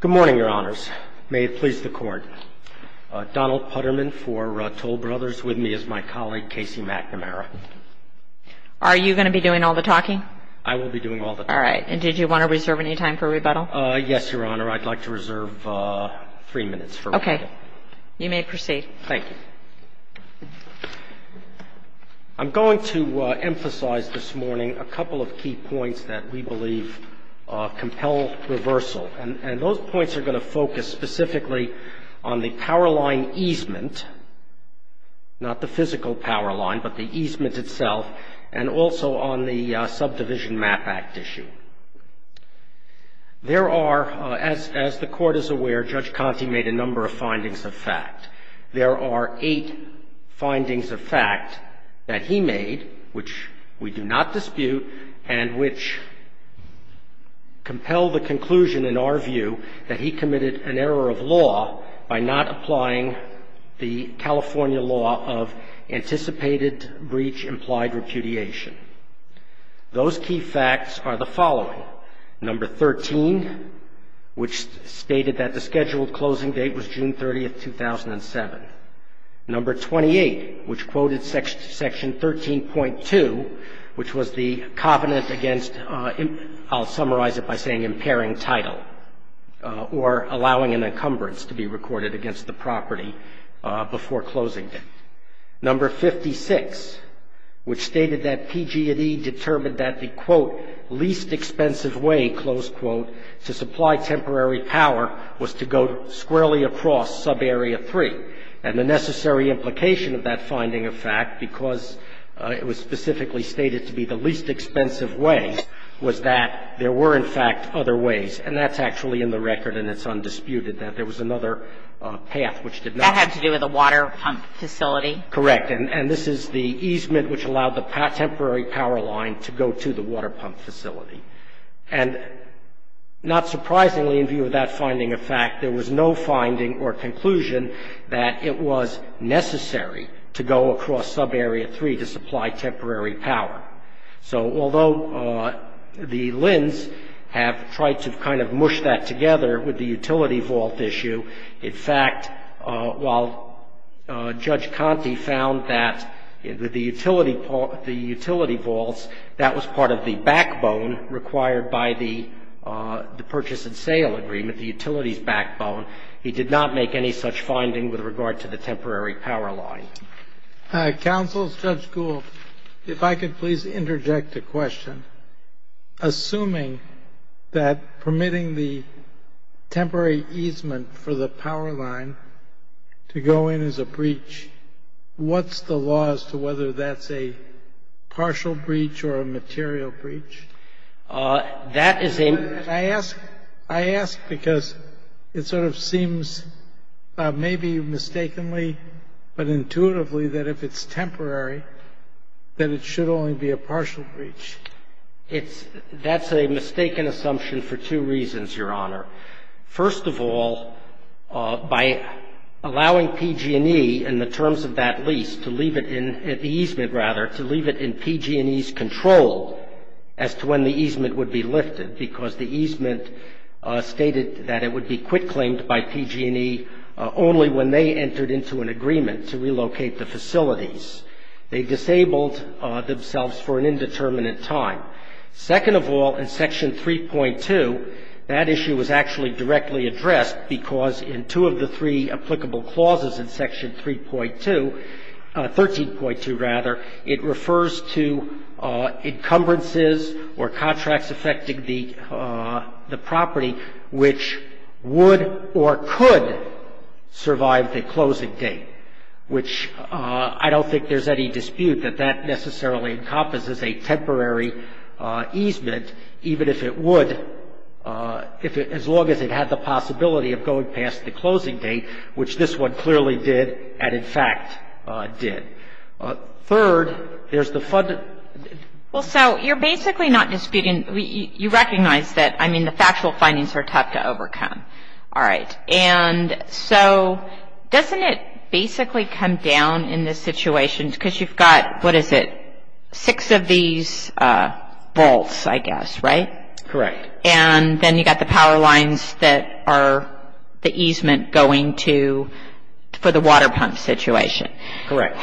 Good morning, Your Honors. May it please the Court, Donald Putterman for Toll Brothers, with me is my colleague, Casey McNamara. Are you going to be doing all the talking? I will be doing all the talking. All right. And did you want to reserve any time for rebuttal? Yes, Your Honor. I'd like to reserve three minutes for rebuttal. Okay. You may proceed. Thank you. I'm going to emphasize this morning a couple of key points that we believe compel reversal. And those points are going to focus specifically on the power line easement, not the physical power line, but the easement itself, and also on the Subdivision Map Act issue. There are, as the Court is aware, Judge Conte made a number of findings of fact. There are eight findings of fact that he made which we do not dispute and which compel the conclusion, in our view, that he committed an error of law by not applying the California law of anticipated breach implied repudiation. Those key facts are the following. Number 13, which stated that the scheduled closing date was June 30, 2007. Number 28, which quoted Section 13.2, which was the covenant against, I'll summarize it by saying, impairing title or allowing an encumbrance to be recorded against the property before closing date. Number 56, which stated that PG&E determined that the, quote, least expensive way, close quote, to supply temporary power was to go squarely across Subarea 3. And the necessary implication of that finding of fact, because it was specifically stated to be the least expensive way, was that there were, in fact, other ways. And that's actually in the record and it's undisputed that there was another path which did not. And it had to do with a water pump facility. Correct. And this is the easement which allowed the temporary power line to go to the water pump facility. And not surprisingly, in view of that finding of fact, there was no finding or conclusion that it was necessary to go across Subarea 3 to supply temporary power. So although the LHINs have tried to kind of mush that together with the utility vault issue, in fact, while Judge Conte found that the utility vaults, that was part of the backbone required by the purchase and sale agreement, the utility's backbone, he did not make any such finding with regard to the temporary power line. Counsel, Judge Gould, if I could please interject a question. Assuming that permitting the temporary easement for the power line to go in is a breach, what's the law as to whether that's a partial breach or a material breach? That is a- I ask because it sort of seems maybe mistakenly but intuitively that if it's temporary, that it should only be a partial breach. It's-that's a mistaken assumption for two reasons, Your Honor. First of all, by allowing PG&E in the terms of that lease to leave it in-the easement, rather, to leave it in PG&E's control as to when the easement would be lifted, because the easement stated that it would be quit claimed by PG&E only when they entered into an agreement to relocate the facilities. They disabled themselves for an indeterminate time. Second of all, in Section 3.2, that issue was actually directly addressed because in two of the three applicable clauses in Section 3.2-13.2, rather, it refers to encumbrances or contracts affecting the property which would or could survive the closing date, which I don't think there's any dispute that that necessarily encompasses a temporary easement, even if it would if it-as long as it had the possibility of going past the closing date, which this one clearly did and, in fact, did. Third, there's the fund- Well, so you're basically not disputing-you recognize that, I mean, the factual findings are tough to overcome. All right. And so doesn't it basically come down in this situation because you've got, what is it, six of these vaults, I guess, right? Correct. And then you've got the power lines that are the easement going to for the water pump situation. Correct.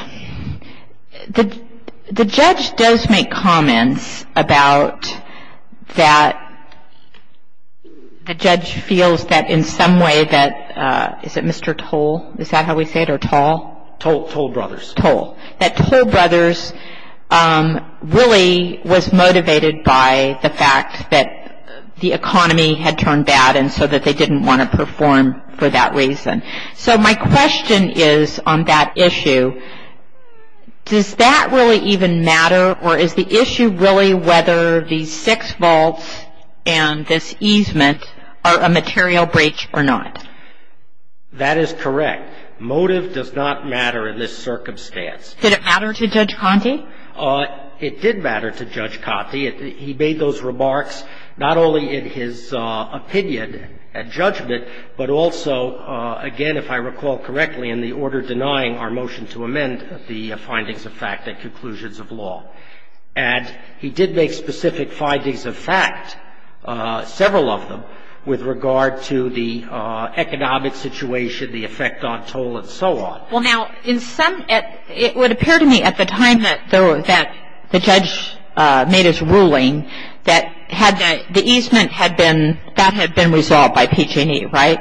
The judge does make comments about that the judge feels that in some way that-is it Mr. Toll? Is that how we say it, or Toll? Toll Brothers. Toll. That Toll Brothers really was motivated by the fact that the economy had turned bad and so that they didn't want to perform for that reason. So my question is on that issue, does that really even matter, or is the issue really whether these six vaults and this easement are a material breach or not? That is correct. Motive does not matter in this circumstance. Did it matter to Judge Conte? It did matter to Judge Conte. Well, it did matter to Judge Conte. He made those remarks not only in his opinion and judgment, but also, again, if I recall correctly, in the order denying our motion to amend the findings of fact and conclusions of law. And he did make specific findings of fact, several of them, with regard to the economic situation, the effect on toll, and so on. Well, now, it would appear to me at the time that the judge made his ruling that the easement had been, that had been resolved by PG&E, right?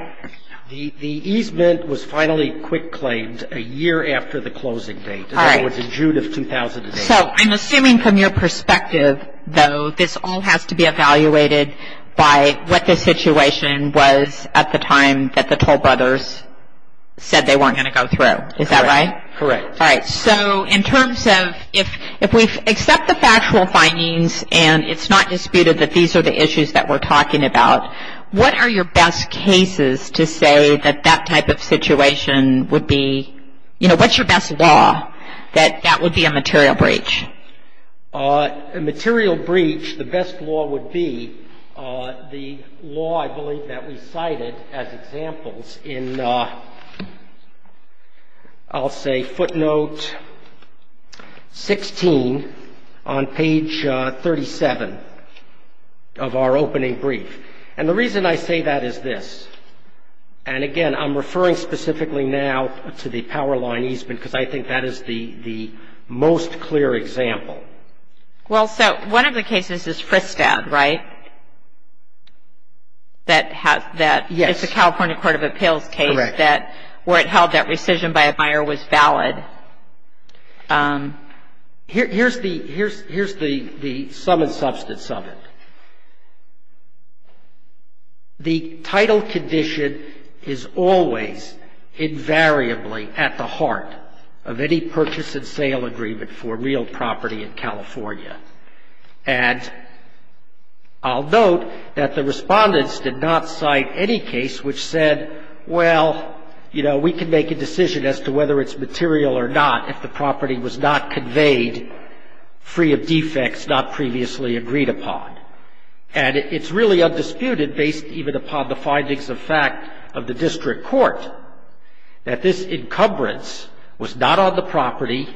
The easement was finally quick claimed a year after the closing date. All right. That was in June of 2008. So I'm assuming from your perspective, though, this all has to be evaluated by what the situation was at the time that the Toll Brothers said they weren't going to go through. Is that right? Correct. All right. So in terms of if we accept the factual findings and it's not disputed that these are the issues that we're talking about, what are your best cases to say that that type of situation would be, you know, what's your best law that that would be a material breach? A material breach, the best law would be the law, I believe, that we cited as examples in, I'll say, footnote 16 on page 37 of our opening brief. And the reason I say that is this. And, again, I'm referring specifically now to the power line easement because I think that is the most clear example. Well, so one of the cases is Fristad, right? That has that. Yes. It's a California Court of Appeals case. Correct. That where it held that rescission by a buyer was valid. Here's the sum and substance of it. The title condition is always invariably at the heart of any purchase and sale agreement for real property in California. And I'll note that the respondents did not cite any case which said, well, you know, we can make a decision as to whether it's material or not if the property was not conveyed free of defects not previously agreed upon. And it's really undisputed, based even upon the findings of fact of the district court, that this encumbrance was not on the property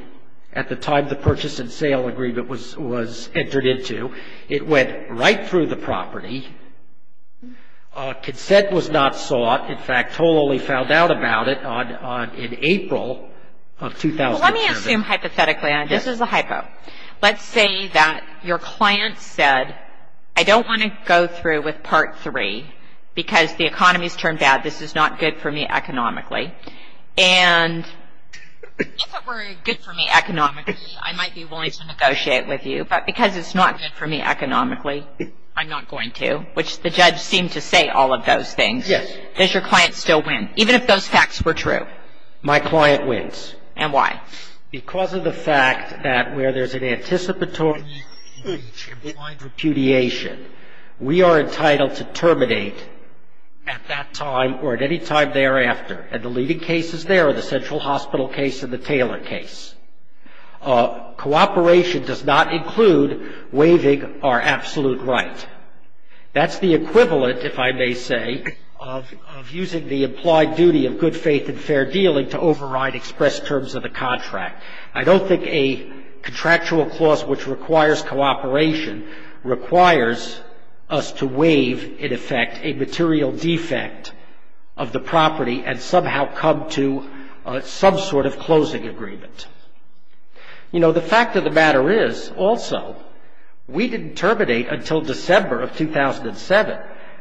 at the time the purchase and sale agreement was entered into. It went right through the property. Consent was not sought. In fact, Toll only found out about it in April of 2007. Well, let me assume hypothetically on it. This is a hypo. Let's say that your client said, I don't want to go through with Part 3 because the economy's turned out. This is not good for me economically. And if it were good for me economically, I might be willing to negotiate with you. But because it's not good for me economically, I'm not going to, which the judge seemed to say all of those things. Yes. Does your client still win, even if those facts were true? My client wins. And why? Because of the fact that where there's an anticipatory impeach and blind repudiation, we are entitled to terminate at that time or at any time thereafter. And the leading cases there are the Central Hospital case and the Taylor case. Cooperation does not include waiving our absolute right. That's the equivalent, if I may say, of using the implied duty of good faith and fair dealing to override express terms of the contract. I don't think a contractual clause which requires cooperation requires us to waive, in effect, a material defect of the property and somehow come to some sort of closing agreement. You know, the fact of the matter is, also, we didn't terminate until December of 2007.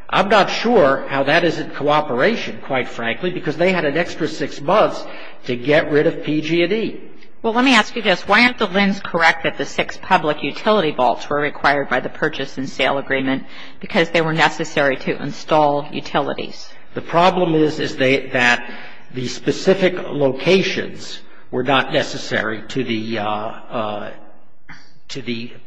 I'm not sure how that isn't cooperation, quite frankly, because they had an extra six months to get rid of PG&E. Well, let me ask you this. Why aren't the LHINs correct that the six public utility vaults were required by the purchase and sale agreement because they were necessary to install utilities? The problem is that the specific locations were not necessary to the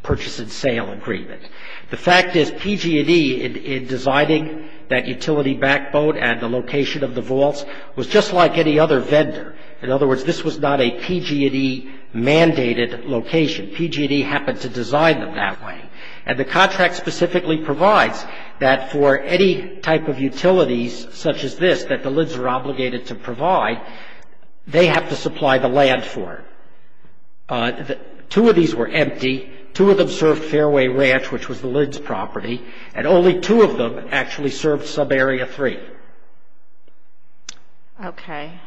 purchase and sale agreement. The fact is PG&E, in designing that utility backbone and the location of the vaults, was just like any other vendor. In other words, this was not a PG&E mandated location. PG&E happened to design them that way. And the contract specifically provides that for any type of utilities such as this that the LHINs are obligated to provide, they have to supply the land for it. Two of these were empty. Two of them served Fairway Ranch, which was the LHIN's property, and only two of them actually served subarea three. Okay.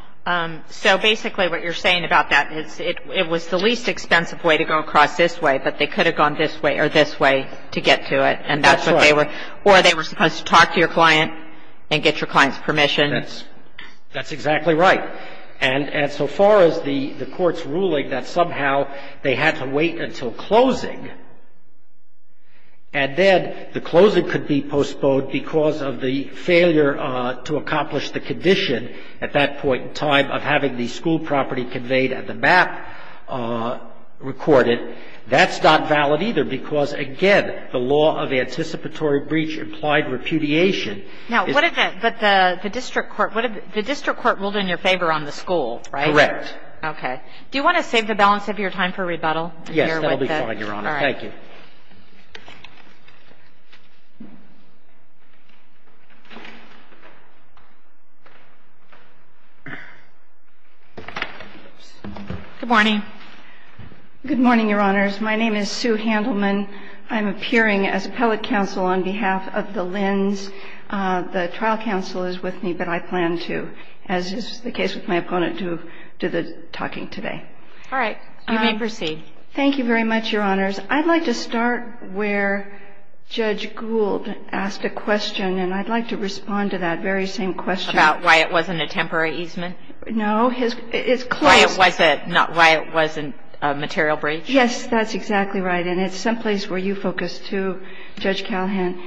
So basically what you're saying about that is it was the least expensive way to go across this way, but they could have gone this way or this way to get to it. That's right. Or they were supposed to talk to your client and get your client's permission. That's exactly right. And so far as the Court's ruling that somehow they had to wait until closing, and then the closing could be postponed because of the failure to accomplish the condition at that point in time of having the school property conveyed and the map recorded, that's not valid either, because, again, the law of anticipatory breach implied repudiation. Now, what if the district court ruled in your favor on the school, right? Correct. Okay. Do you want to save the balance of your time for rebuttal? Yes, that will be fine, Your Honor. Thank you. Good morning. Good morning, Your Honors. My name is Sue Handelman. I'm appearing as appellate counsel on behalf of the Lynn's. The trial counsel is with me, but I plan to, as is the case with my opponent who did the talking today. All right. You may proceed. Thank you very much, Your Honors. I'd like to start where Judge Gould asked a question, and I'd like to respond to that very same question. About why it wasn't a temporary easement? No. It's closed. Why it wasn't a material breach? Yes, that's exactly right. And it's someplace where you focus, too, Judge Callahan.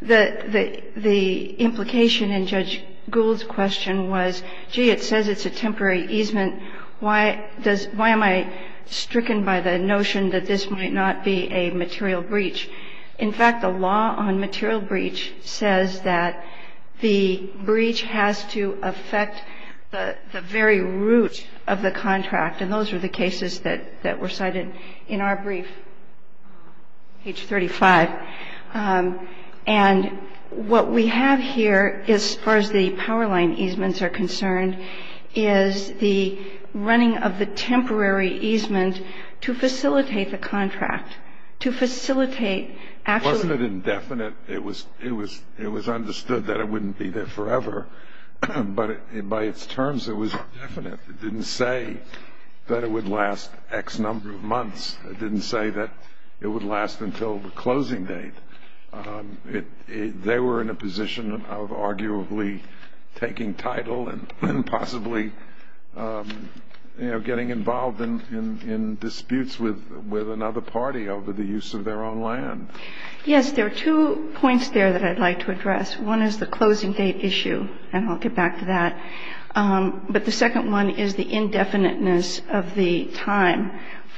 The implication in Judge Gould's question was, gee, it says it's a temporary easement. Why am I stricken by the notion that this might not be a material breach? In fact, the law on material breach says that the breach has to affect the very root of the contract. And those are the cases that were cited in our brief, page 35. And what we have here, as far as the power line easements are concerned, is the running of the temporary easement to facilitate the contract, to facilitate actually the contract. Wasn't it indefinite? It was understood that it wouldn't be there forever. But by its terms, it was indefinite. It didn't say that it would last X number of months. It didn't say that it would last until the closing date. They were in a position of arguably taking title and possibly, you know, getting involved in disputes with another party over the use of their own land. Yes, there are two points there that I'd like to address. One is the closing date issue. And I'll get back to that. But the second one is the indefiniteness of the time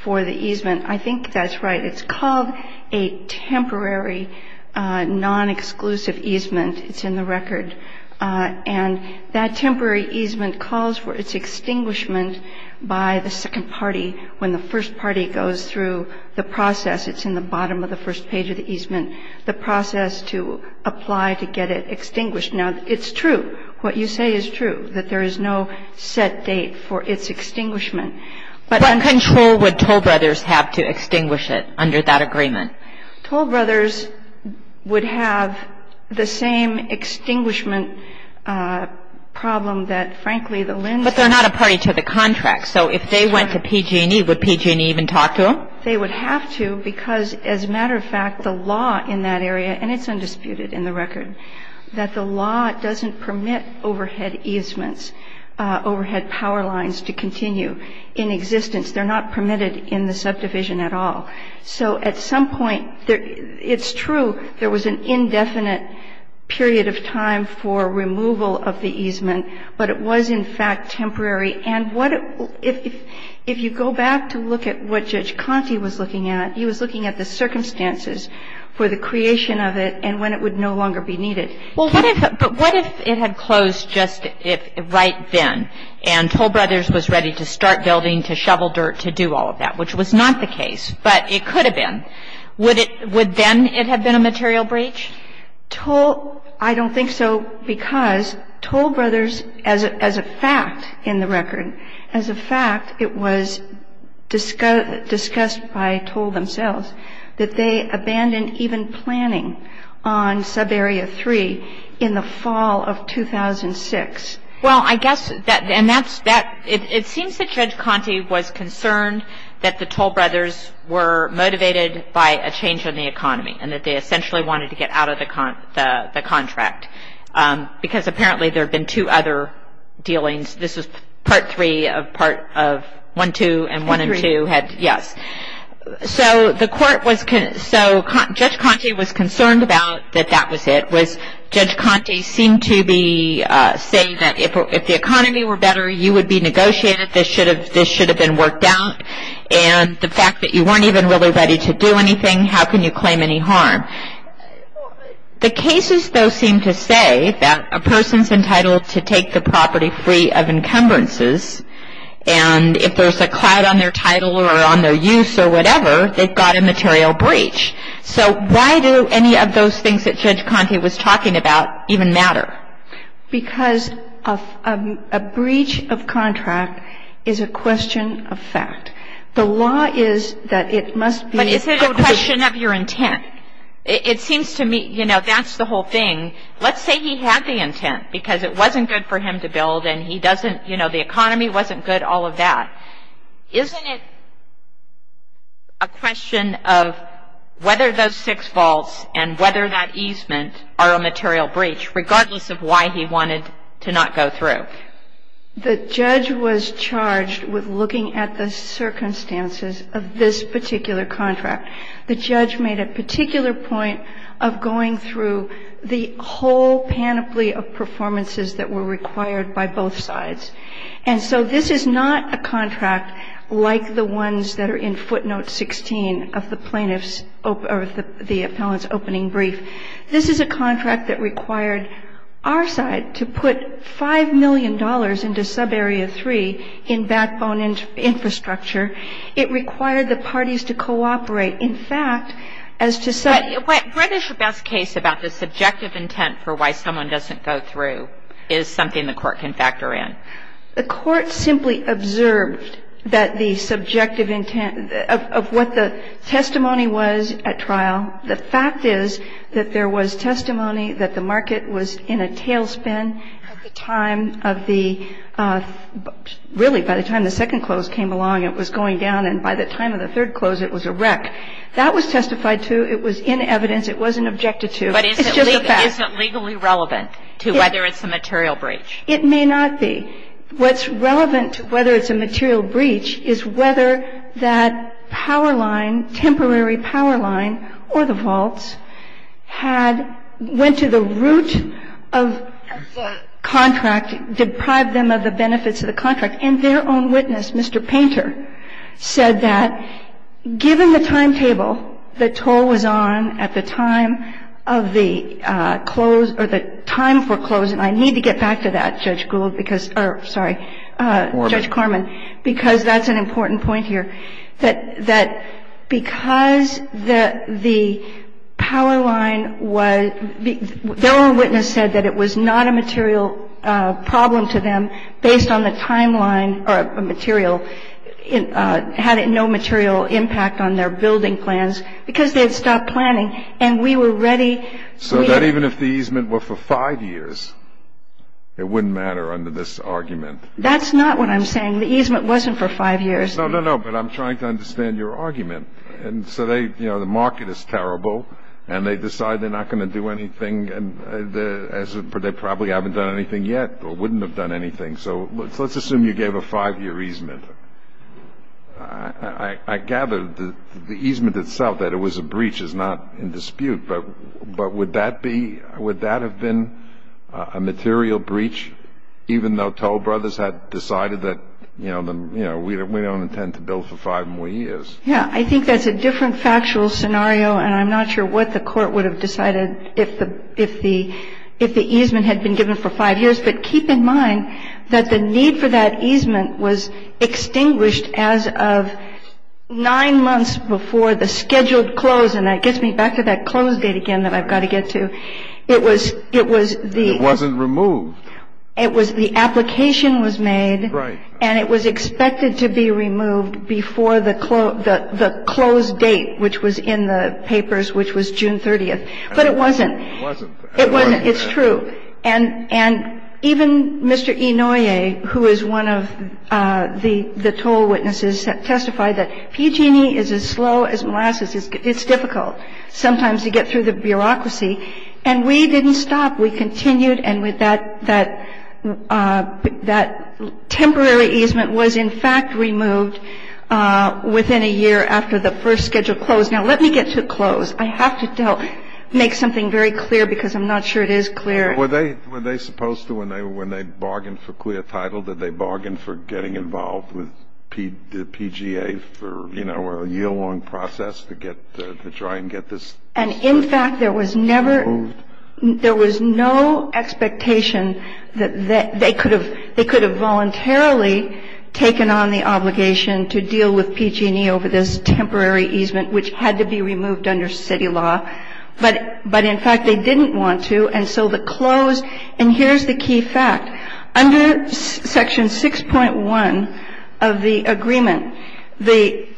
for the easement. I think that's right. It's called a temporary non-exclusive easement. It's in the record. And that temporary easement calls for its extinguishment by the second party when the first party goes through the process. It's in the bottom of the first page of the easement, the process to apply to get it extinguished. Now, it's true. What you say is true, that there is no set date for its extinguishment. But I'm going to go with Toll Brothers have to extinguish it under that agreement. Toll Brothers would have the same extinguishment problem that, frankly, the LHINs have. But they're not a party to the contract. So if they went to PG&E, would PG&E even talk to them? They would have to because, as a matter of fact, the law in that area, and it's undisputed in the record, that the law doesn't permit overhead easements, overhead power lines to continue in existence. They're not permitted in the subdivision at all. So at some point, it's true there was an indefinite period of time for removal of the easement, but it was, in fact, temporary. And if you go back to look at what Judge Conte was looking at, he was looking at the circumstances for the creation of it and when it would no longer be needed. But what if it had closed just right then and Toll Brothers was ready to start building, to shovel dirt, to do all of that, which was not the case, but it could have been? Would then it have been a material breach? I don't think so because Toll Brothers, as a fact in the record, as a fact, it was discussed by Toll themselves that they abandoned even planning on Subarea 3 in the fall of 2006. Well, I guess that, and that's, it seems that Judge Conte was concerned that the Toll Brothers were motivated by a change in the economy and that they essentially wanted to get out of the contract because apparently there had been two other dealings. This was Part 3 of Part 1-2 and 1-2 had, yes. So the court was, so Judge Conte was concerned about that that was it, was Judge Conte seemed to be saying that if the economy were better, you would be negotiated, this should have been worked out, and the fact that you weren't even really ready to do anything, how can you claim any harm? The cases, though, seem to say that a person's entitled to take the property free of encumbrances and if there's a cloud on their title or on their use or whatever, they've got a material breach. So why do any of those things that Judge Conte was talking about even matter? Because a breach of contract is a question of fact. The law is that it must be. But is it a question of your intent? It seems to me, you know, that's the whole thing. Let's say he had the intent because it wasn't good for him to build and he doesn't, you know, the economy wasn't good, all of that. Isn't it a question of whether those six faults and whether that easement are a material breach, regardless of why he wanted to not go through? The judge was charged with looking at the circumstances of this particular contract. The judge made a particular point of going through the whole panoply of performances that were required by both sides. And so this is not a contract like the ones that are in footnote 16 of the plaintiff's or the appellant's opening brief. This is a contract that required our side to put $5 million into subarea 3 in backbone infrastructure. It required the parties to cooperate. In fact, as to say the question of whether the subject of intent for why someone doesn't go through is something the Court can factor in. The Court simply observed that the subjective intent of what the testimony was at trial. The fact is that there was testimony that the market was in a tailspin at the time of the, really by the time the second close came along, it was going down. And by the time of the third close, it was a wreck. That was testified to. It was in evidence. It wasn't objected to. It's just a fact. But is it legally relevant to whether it's a material breach? It may not be. What's relevant to whether it's a material breach is whether that power line, temporary or the vaults, had went to the root of the contract, deprived them of the benefits of the contract. And their own witness, Mr. Painter, said that given the timetable, the toll was on at the time of the close or the time for closing. I need to get back to that, Judge Gould, because or, sorry, Judge Corman, because that's an important point here. That because the power line was, their own witness said that it was not a material problem to them based on the timeline or a material, had no material impact on their building plans because they had stopped planning. And we were ready. So that even if the easement were for five years, it wouldn't matter under this argument? That's not what I'm saying. The easement wasn't for five years. No, no, no. But I'm trying to understand your argument. And so they, you know, the market is terrible, and they decide they're not going to do anything as if they probably haven't done anything yet or wouldn't have done anything. So let's assume you gave a five-year easement. I gather the easement itself, that it was a breach, is not in dispute. But would that be, would that have been a material breach even though Toll Brothers had decided that, you know, we don't intend to build for five more years? Yeah. I think that's a different factual scenario, and I'm not sure what the Court would have decided if the easement had been given for five years. But keep in mind that the need for that easement was extinguished as of nine months before the scheduled close, and that gets me back to that close date again that I've got to get to. It was the — It wasn't removed. It was the application was made. Right. And it was expected to be removed before the close date, which was in the papers, which was June 30th. But it wasn't. It wasn't. It's true. And even Mr. Inouye, who is one of the toll witnesses, testified that PG&E is as slow as molasses. It's difficult sometimes to get through the bureaucracy. And we didn't stop. We continued. And that temporary easement was, in fact, removed within a year after the first scheduled close. Now, let me get to close. I have to make something very clear because I'm not sure it is clear. Were they supposed to, when they bargained for clear title, did they bargain for getting involved with the PGA for, you know, a year-long process to try and get this removed? And, in fact, there was never — there was no expectation that they could have — they could have voluntarily taken on the obligation to deal with PG&E over this temporary easement, which had to be removed under city law. But, in fact, they didn't want to. And so the close — and here's the key fact. Under Section 6.1 of the agreement, the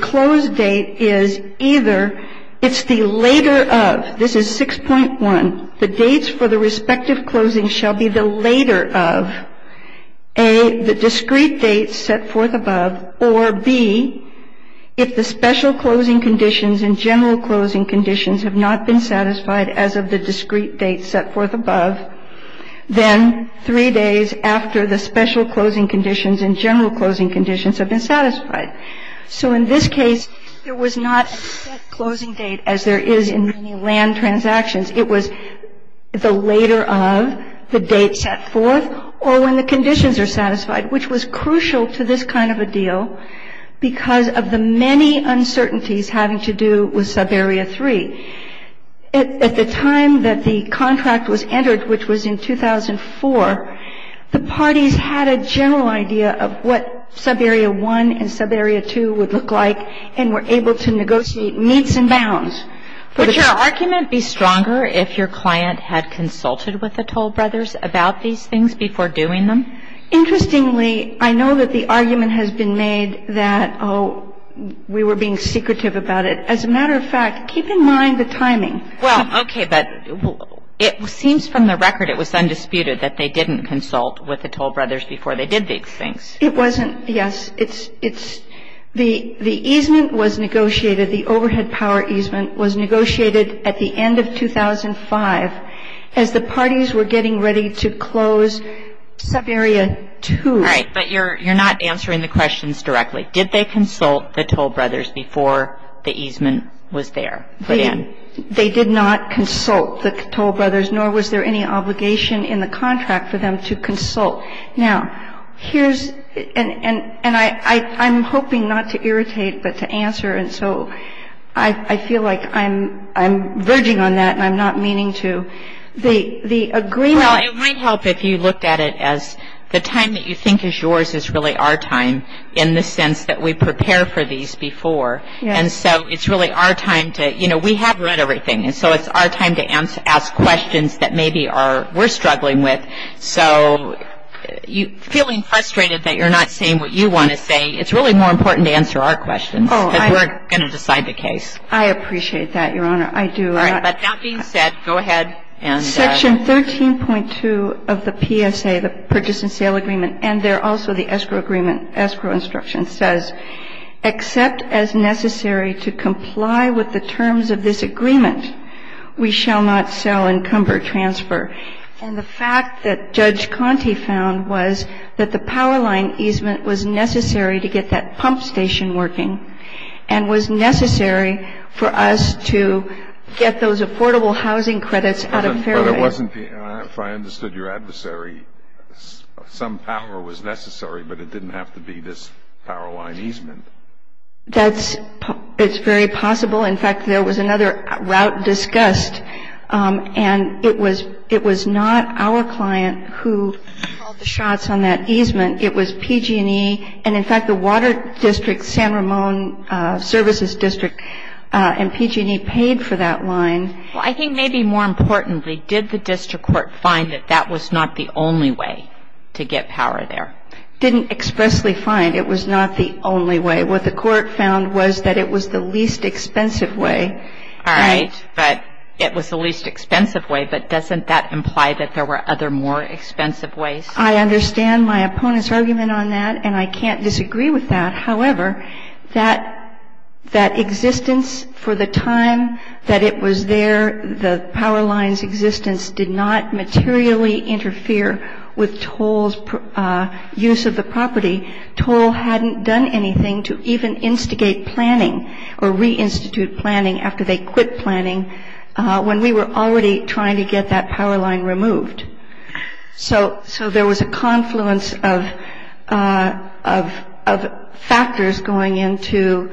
close date is either — it's the later of. This is 6.1. The dates for the respective closings shall be the later of, A, the discrete dates set forth above, or, B, if the special closing conditions and general closing conditions have not been satisfied as of the discrete dates set forth above, then three days after the special closing conditions and general closing conditions have been satisfied. So in this case, there was not a set closing date as there is in many land transactions. It was the later of, the date set forth, or when the conditions are satisfied, which was crucial to this kind of a deal because of the many uncertainties having to do with Subarea 3. At the time that the contract was entered, which was in 2004, the parties had a general idea of what Subarea 1 and Subarea 2 would look like and were able to negotiate meets and bounds for the two. Would your argument be stronger if your client had consulted with the Toll Brothers about these things before doing them? Interestingly, I know that the argument has been made that, oh, we were being secretive about it. As a matter of fact, keep in mind the timing. Well, okay, but it seems from the record it was undisputed that they didn't consult with the Toll Brothers before they did these things. It wasn't, yes. The easement was negotiated, the overhead power easement was negotiated at the end of 2005 as the parties were getting ready to close Subarea 2. All right. But you're not answering the questions directly. Did they consult the Toll Brothers before the easement was there? They did not consult the Toll Brothers, nor was there any obligation in the contract for them to consult. Now, here's and I'm hoping not to irritate but to answer, and so I feel like I'm verging on that and I'm not meaning to. The agreement Well, it might help if you looked at it as the time that you think is yours is really our time in the sense that we prepare for these before. And so it's really our time to, you know, we have read everything. And so it's our time to ask questions that maybe are, we're struggling with. So feeling frustrated that you're not saying what you want to say, it's really more important to answer our questions. Oh, I Because we're going to decide the case. I appreciate that, Your Honor. I do. All right. But that being said, go ahead and Section 13.2 of the PSA, the Purchase and Sale Agreement, and there also the escrow agreement, escrow instruction says, except as necessary to comply with the terms of this agreement, we shall not sell and cumber transfer. And the fact that Judge Conte found was that the power line easement was necessary to get that pump station working and was necessary for us to get those affordable housing credits out of Fairway. But it wasn't, if I understood your adversary, some power was necessary, but it didn't have to be this power line easement. That's, it's very possible. In fact, there was another route discussed. And it was not our client who called the shots on that easement. It was PG&E. And in fact, the Water District, San Ramon Services District, and PG&E paid for that line. Well, I think maybe more importantly, did the district court find that that was not the only way to get power there? Didn't expressly find it was not the only way. What the court found was that it was the least expensive way. All right. But it was the least expensive way, but doesn't that imply that there were other more expensive ways? I understand my opponent's argument on that, and I can't disagree with that. However, that existence for the time that it was there, the power line's existence did not materially interfere with Toll's use of the property. Toll hadn't done anything to even instigate planning or reinstitute planning after they quit planning when we were already trying to get that power line removed. So there was a confluence of factors going into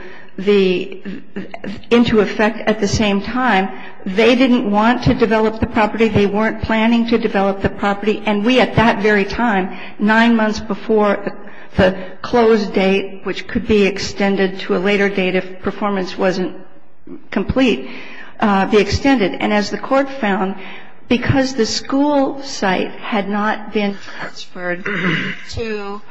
effect at the same time. They didn't want to develop the property. They weren't planning to develop the property. And we, at that very time, nine months before the close date, which could be extended to a later date if performance wasn't complete, be extended. And as the Court found, because the school site had not been transferred to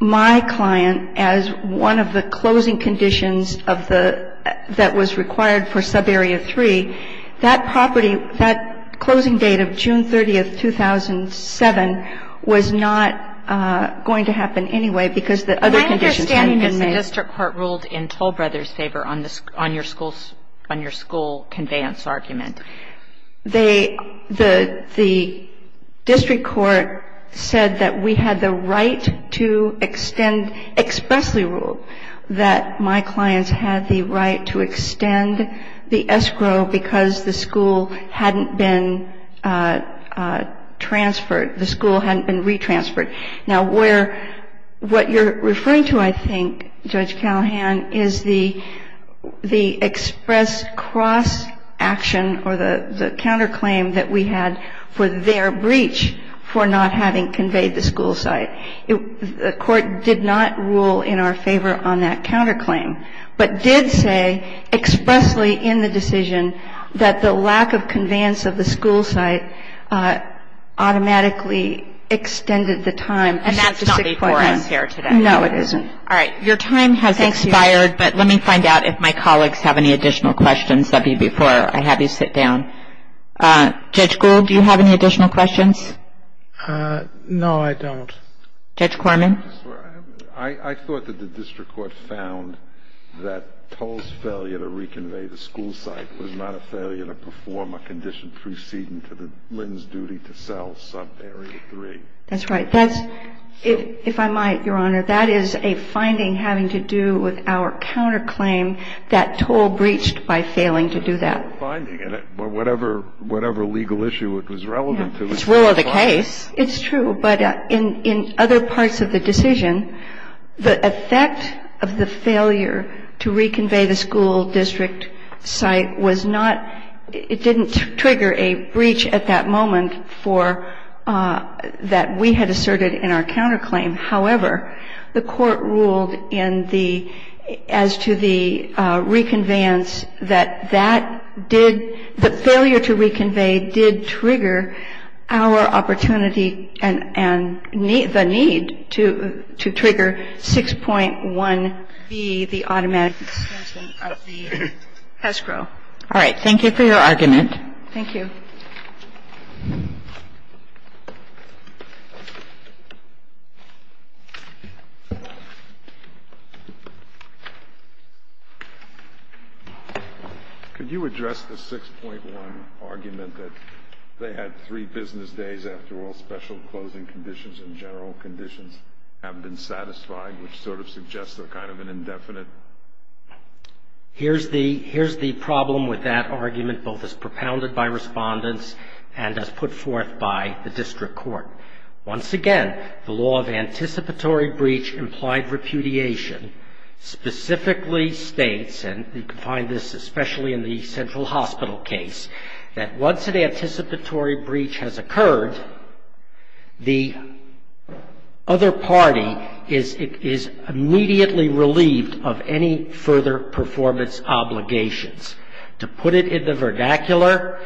my client as one of the closing conditions of the – that was required for subarea 3, that property, that closing date of June 30th, 2007, was not going to happen anyway because the other conditions hadn't been met. The district court ruled in Toll Brothers' favor on your school conveyance argument. They – the district court said that we had the right to extend – expressly ruled that my clients had the right to extend the escrow because the school hadn't been transferred, the school hadn't been retransferred. Now, where – what you're referring to, I think, Judge Callahan, is the expressed cross-action or the counterclaim that we had for their breach for not having conveyed the school site. The Court did not rule in our favor on that counterclaim, but did say expressly in the decision that the lack of conveyance of the school site automatically extended the time. And that's not before us here today. No, it isn't. All right. Your time has expired, but let me find out if my colleagues have any additional questions. That would be before I have you sit down. Judge Gould, do you have any additional questions? No, I don't. Judge Corman? I thought that the district court found that Toll's failure to reconvey the school site was not a failure to perform a condition preceding to Lynn's duty to sell subarea 3. That's right. That's – if I might, Your Honor, that is a finding having to do with our counterclaim that Toll breached by failing to do that. A finding. Whatever legal issue it was relevant to. It's rule of the case. It's true. But in other parts of the decision, the effect of the failure to reconvey the school district site was not – it didn't trigger a breach at that moment for – that we had asserted in our counterclaim. However, the court ruled in the – as to the reconveyance that that did – the failure to reconvey did trigger our opportunity and the need to trigger 6.1B, the automatic suspension of the escrow. All right. Thank you for your argument. Thank you. Could you address the 6.1 argument that they had three business days after all special closing conditions and general conditions have been satisfied, which sort of suggests they're kind of an indefinite? Here's the – here's the problem with that argument, both as propounded by respondents and as put forth by the district court. Once again, the law of anticipatory breach implied repudiation specifically states, and you can find this especially in the central hospital case, that once an anticipatory breach has occurred, the other party is immediately relieved of any further performance obligations. To put it in the vernacular,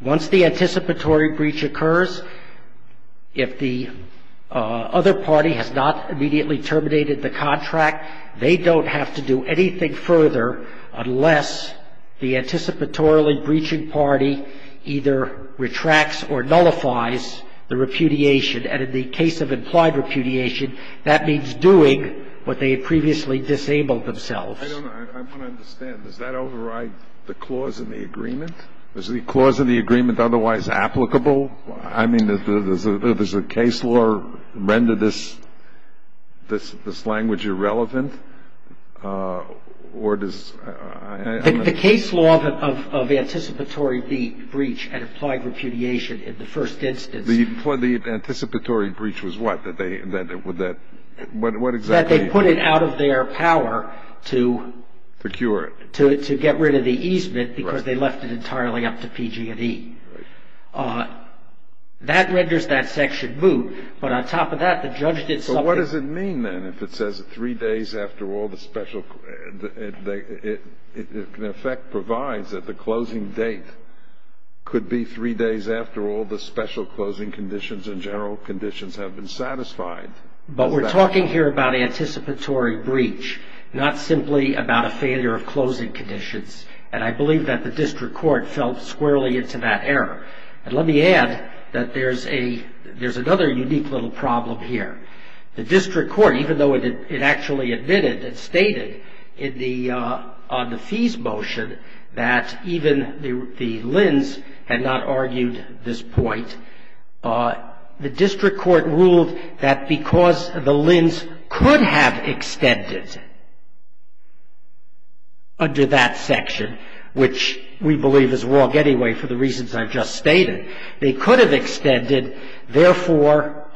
once the anticipatory breach occurs, if the other party has not immediately terminated the contract, they don't have to do anything further unless the anticipatorily breaching party either retracts or nullifies the repudiation. And in the case of implied repudiation, that means doing what they had previously disabled themselves. I don't know. I want to understand. Does that override the clause in the agreement? Is the clause in the agreement otherwise applicable? I mean, does the case law render this language irrelevant? Or does – I don't know. The case law of anticipatory breach and implied repudiation in the first instance – The anticipatory breach was what? That they – what exactly – That they put it out of their power to – Procure it. To get rid of the easement because they left it entirely up to PG&E. Right. That renders that section moot. But on top of that, the judge did something – It in effect provides that the closing date could be three days after all the special closing conditions and general conditions have been satisfied. But we're talking here about anticipatory breach, not simply about a failure of closing conditions. And I believe that the district court fell squarely into that error. And let me add that there's a – there's another unique little problem here. The district court, even though it actually admitted and stated in the fees motion that even the LHINs had not argued this point, the district court ruled that because the LHINs could have extended under that section, which we believe is wrong anyway for the reasons I've just stated, they could have extended. Therefore,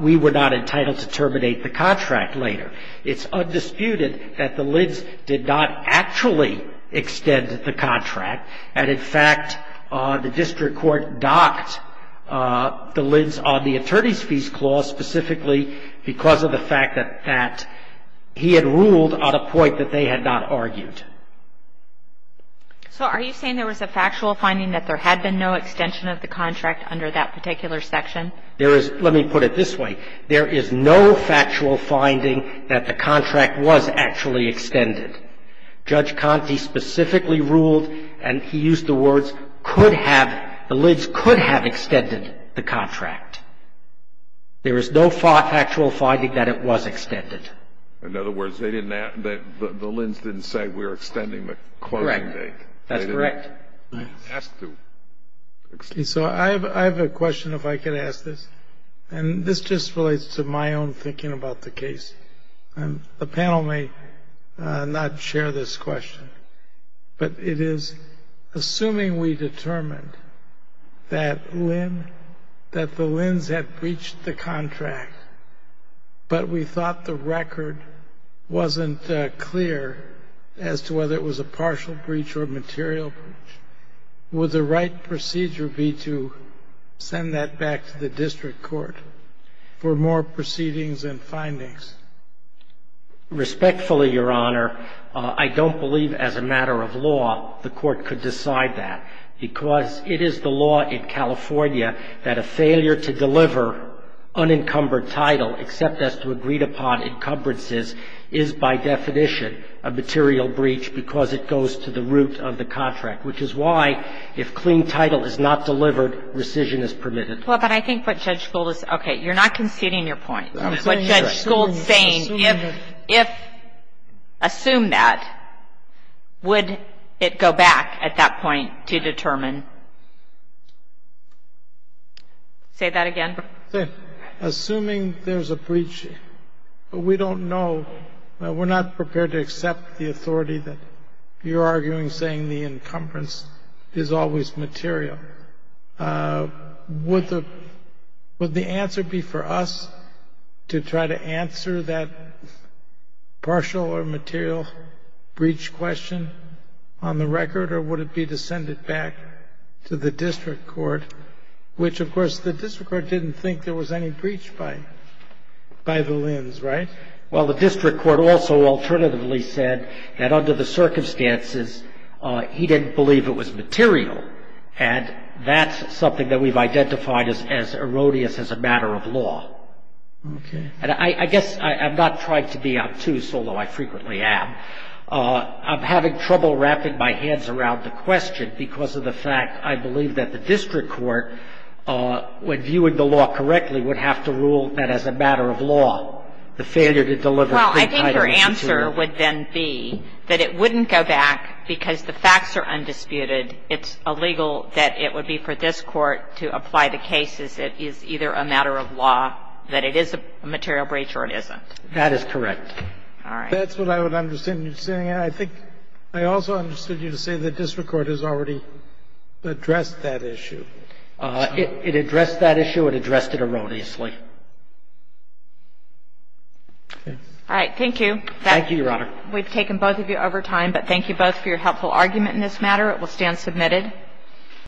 we were not entitled to terminate the contract later. It's undisputed that the LHINs did not actually extend the contract. And in fact, the district court docked the LHINs on the attorney's fees clause specifically because of the fact that he had ruled on a point that they had not argued. So are you saying there was a factual finding that there had been no extension of the contract under that particular section? There is – let me put it this way. There is no factual finding that the contract was actually extended. Judge Conte specifically ruled, and he used the words, could have – the LHINs could have extended the contract. There is no factual finding that it was extended. In other words, they didn't – the LHINs didn't say we were extending the closing date. Correct. That's correct. They didn't ask to extend. So I have a question if I could ask this. And this just relates to my own thinking about the case. The panel may not share this question, but it is assuming we determined that LHIN – that the LHINs had breached the contract but we thought the record wasn't clear as to whether it was a partial breach or a material breach. Would the right procedure be to send that back to the district court for more proceedings and findings? Respectfully, Your Honor, I don't believe as a matter of law the court could decide that because it is the law in California that a failure to deliver unencumbered title except as to agreed-upon encumbrances is by definition a material breach because it goes to the root of the contract, which is why if clean title is not delivered, rescission is permitted. Well, but I think what Judge Gould is – okay, you're not conceding your point. What Judge Gould is saying, if – assume that, would it go back at that point to determine? Say that again. Assuming there's a breach, we don't know. We're not prepared to accept the authority that you're arguing saying the encumbrance is always material. Would the answer be for us to try to answer that partial or material breach question on the record, or would it be to send it back to the district court, which, of course, the district court didn't think there was any breach by the Lins, right? Well, the district court also alternatively said that under the circumstances, he didn't believe it was material, and that's something that we've identified as erroneous as a matter of law. Okay. And I guess I'm not trying to be obtuse, although I frequently am. I'm having trouble wrapping my hands around the question because of the fact, I believe that the district court, when viewing the law correctly, would have to rule that as a matter of law, the failure to deliver clean title is secure. Well, I think your answer would then be that it wouldn't go back because the facts are undisputed. It's illegal that it would be for this court to apply the case as it is either a matter of law, that it is a material breach or it isn't. That is correct. All right. That's what I would understand you saying. I think I also understood you to say the district court has already addressed that issue. It addressed that issue. It addressed it erroneously. All right. Thank you. Thank you, Your Honor. We've taken both of you over time, but thank you both for your helpful argument in this matter. It will stand submitted.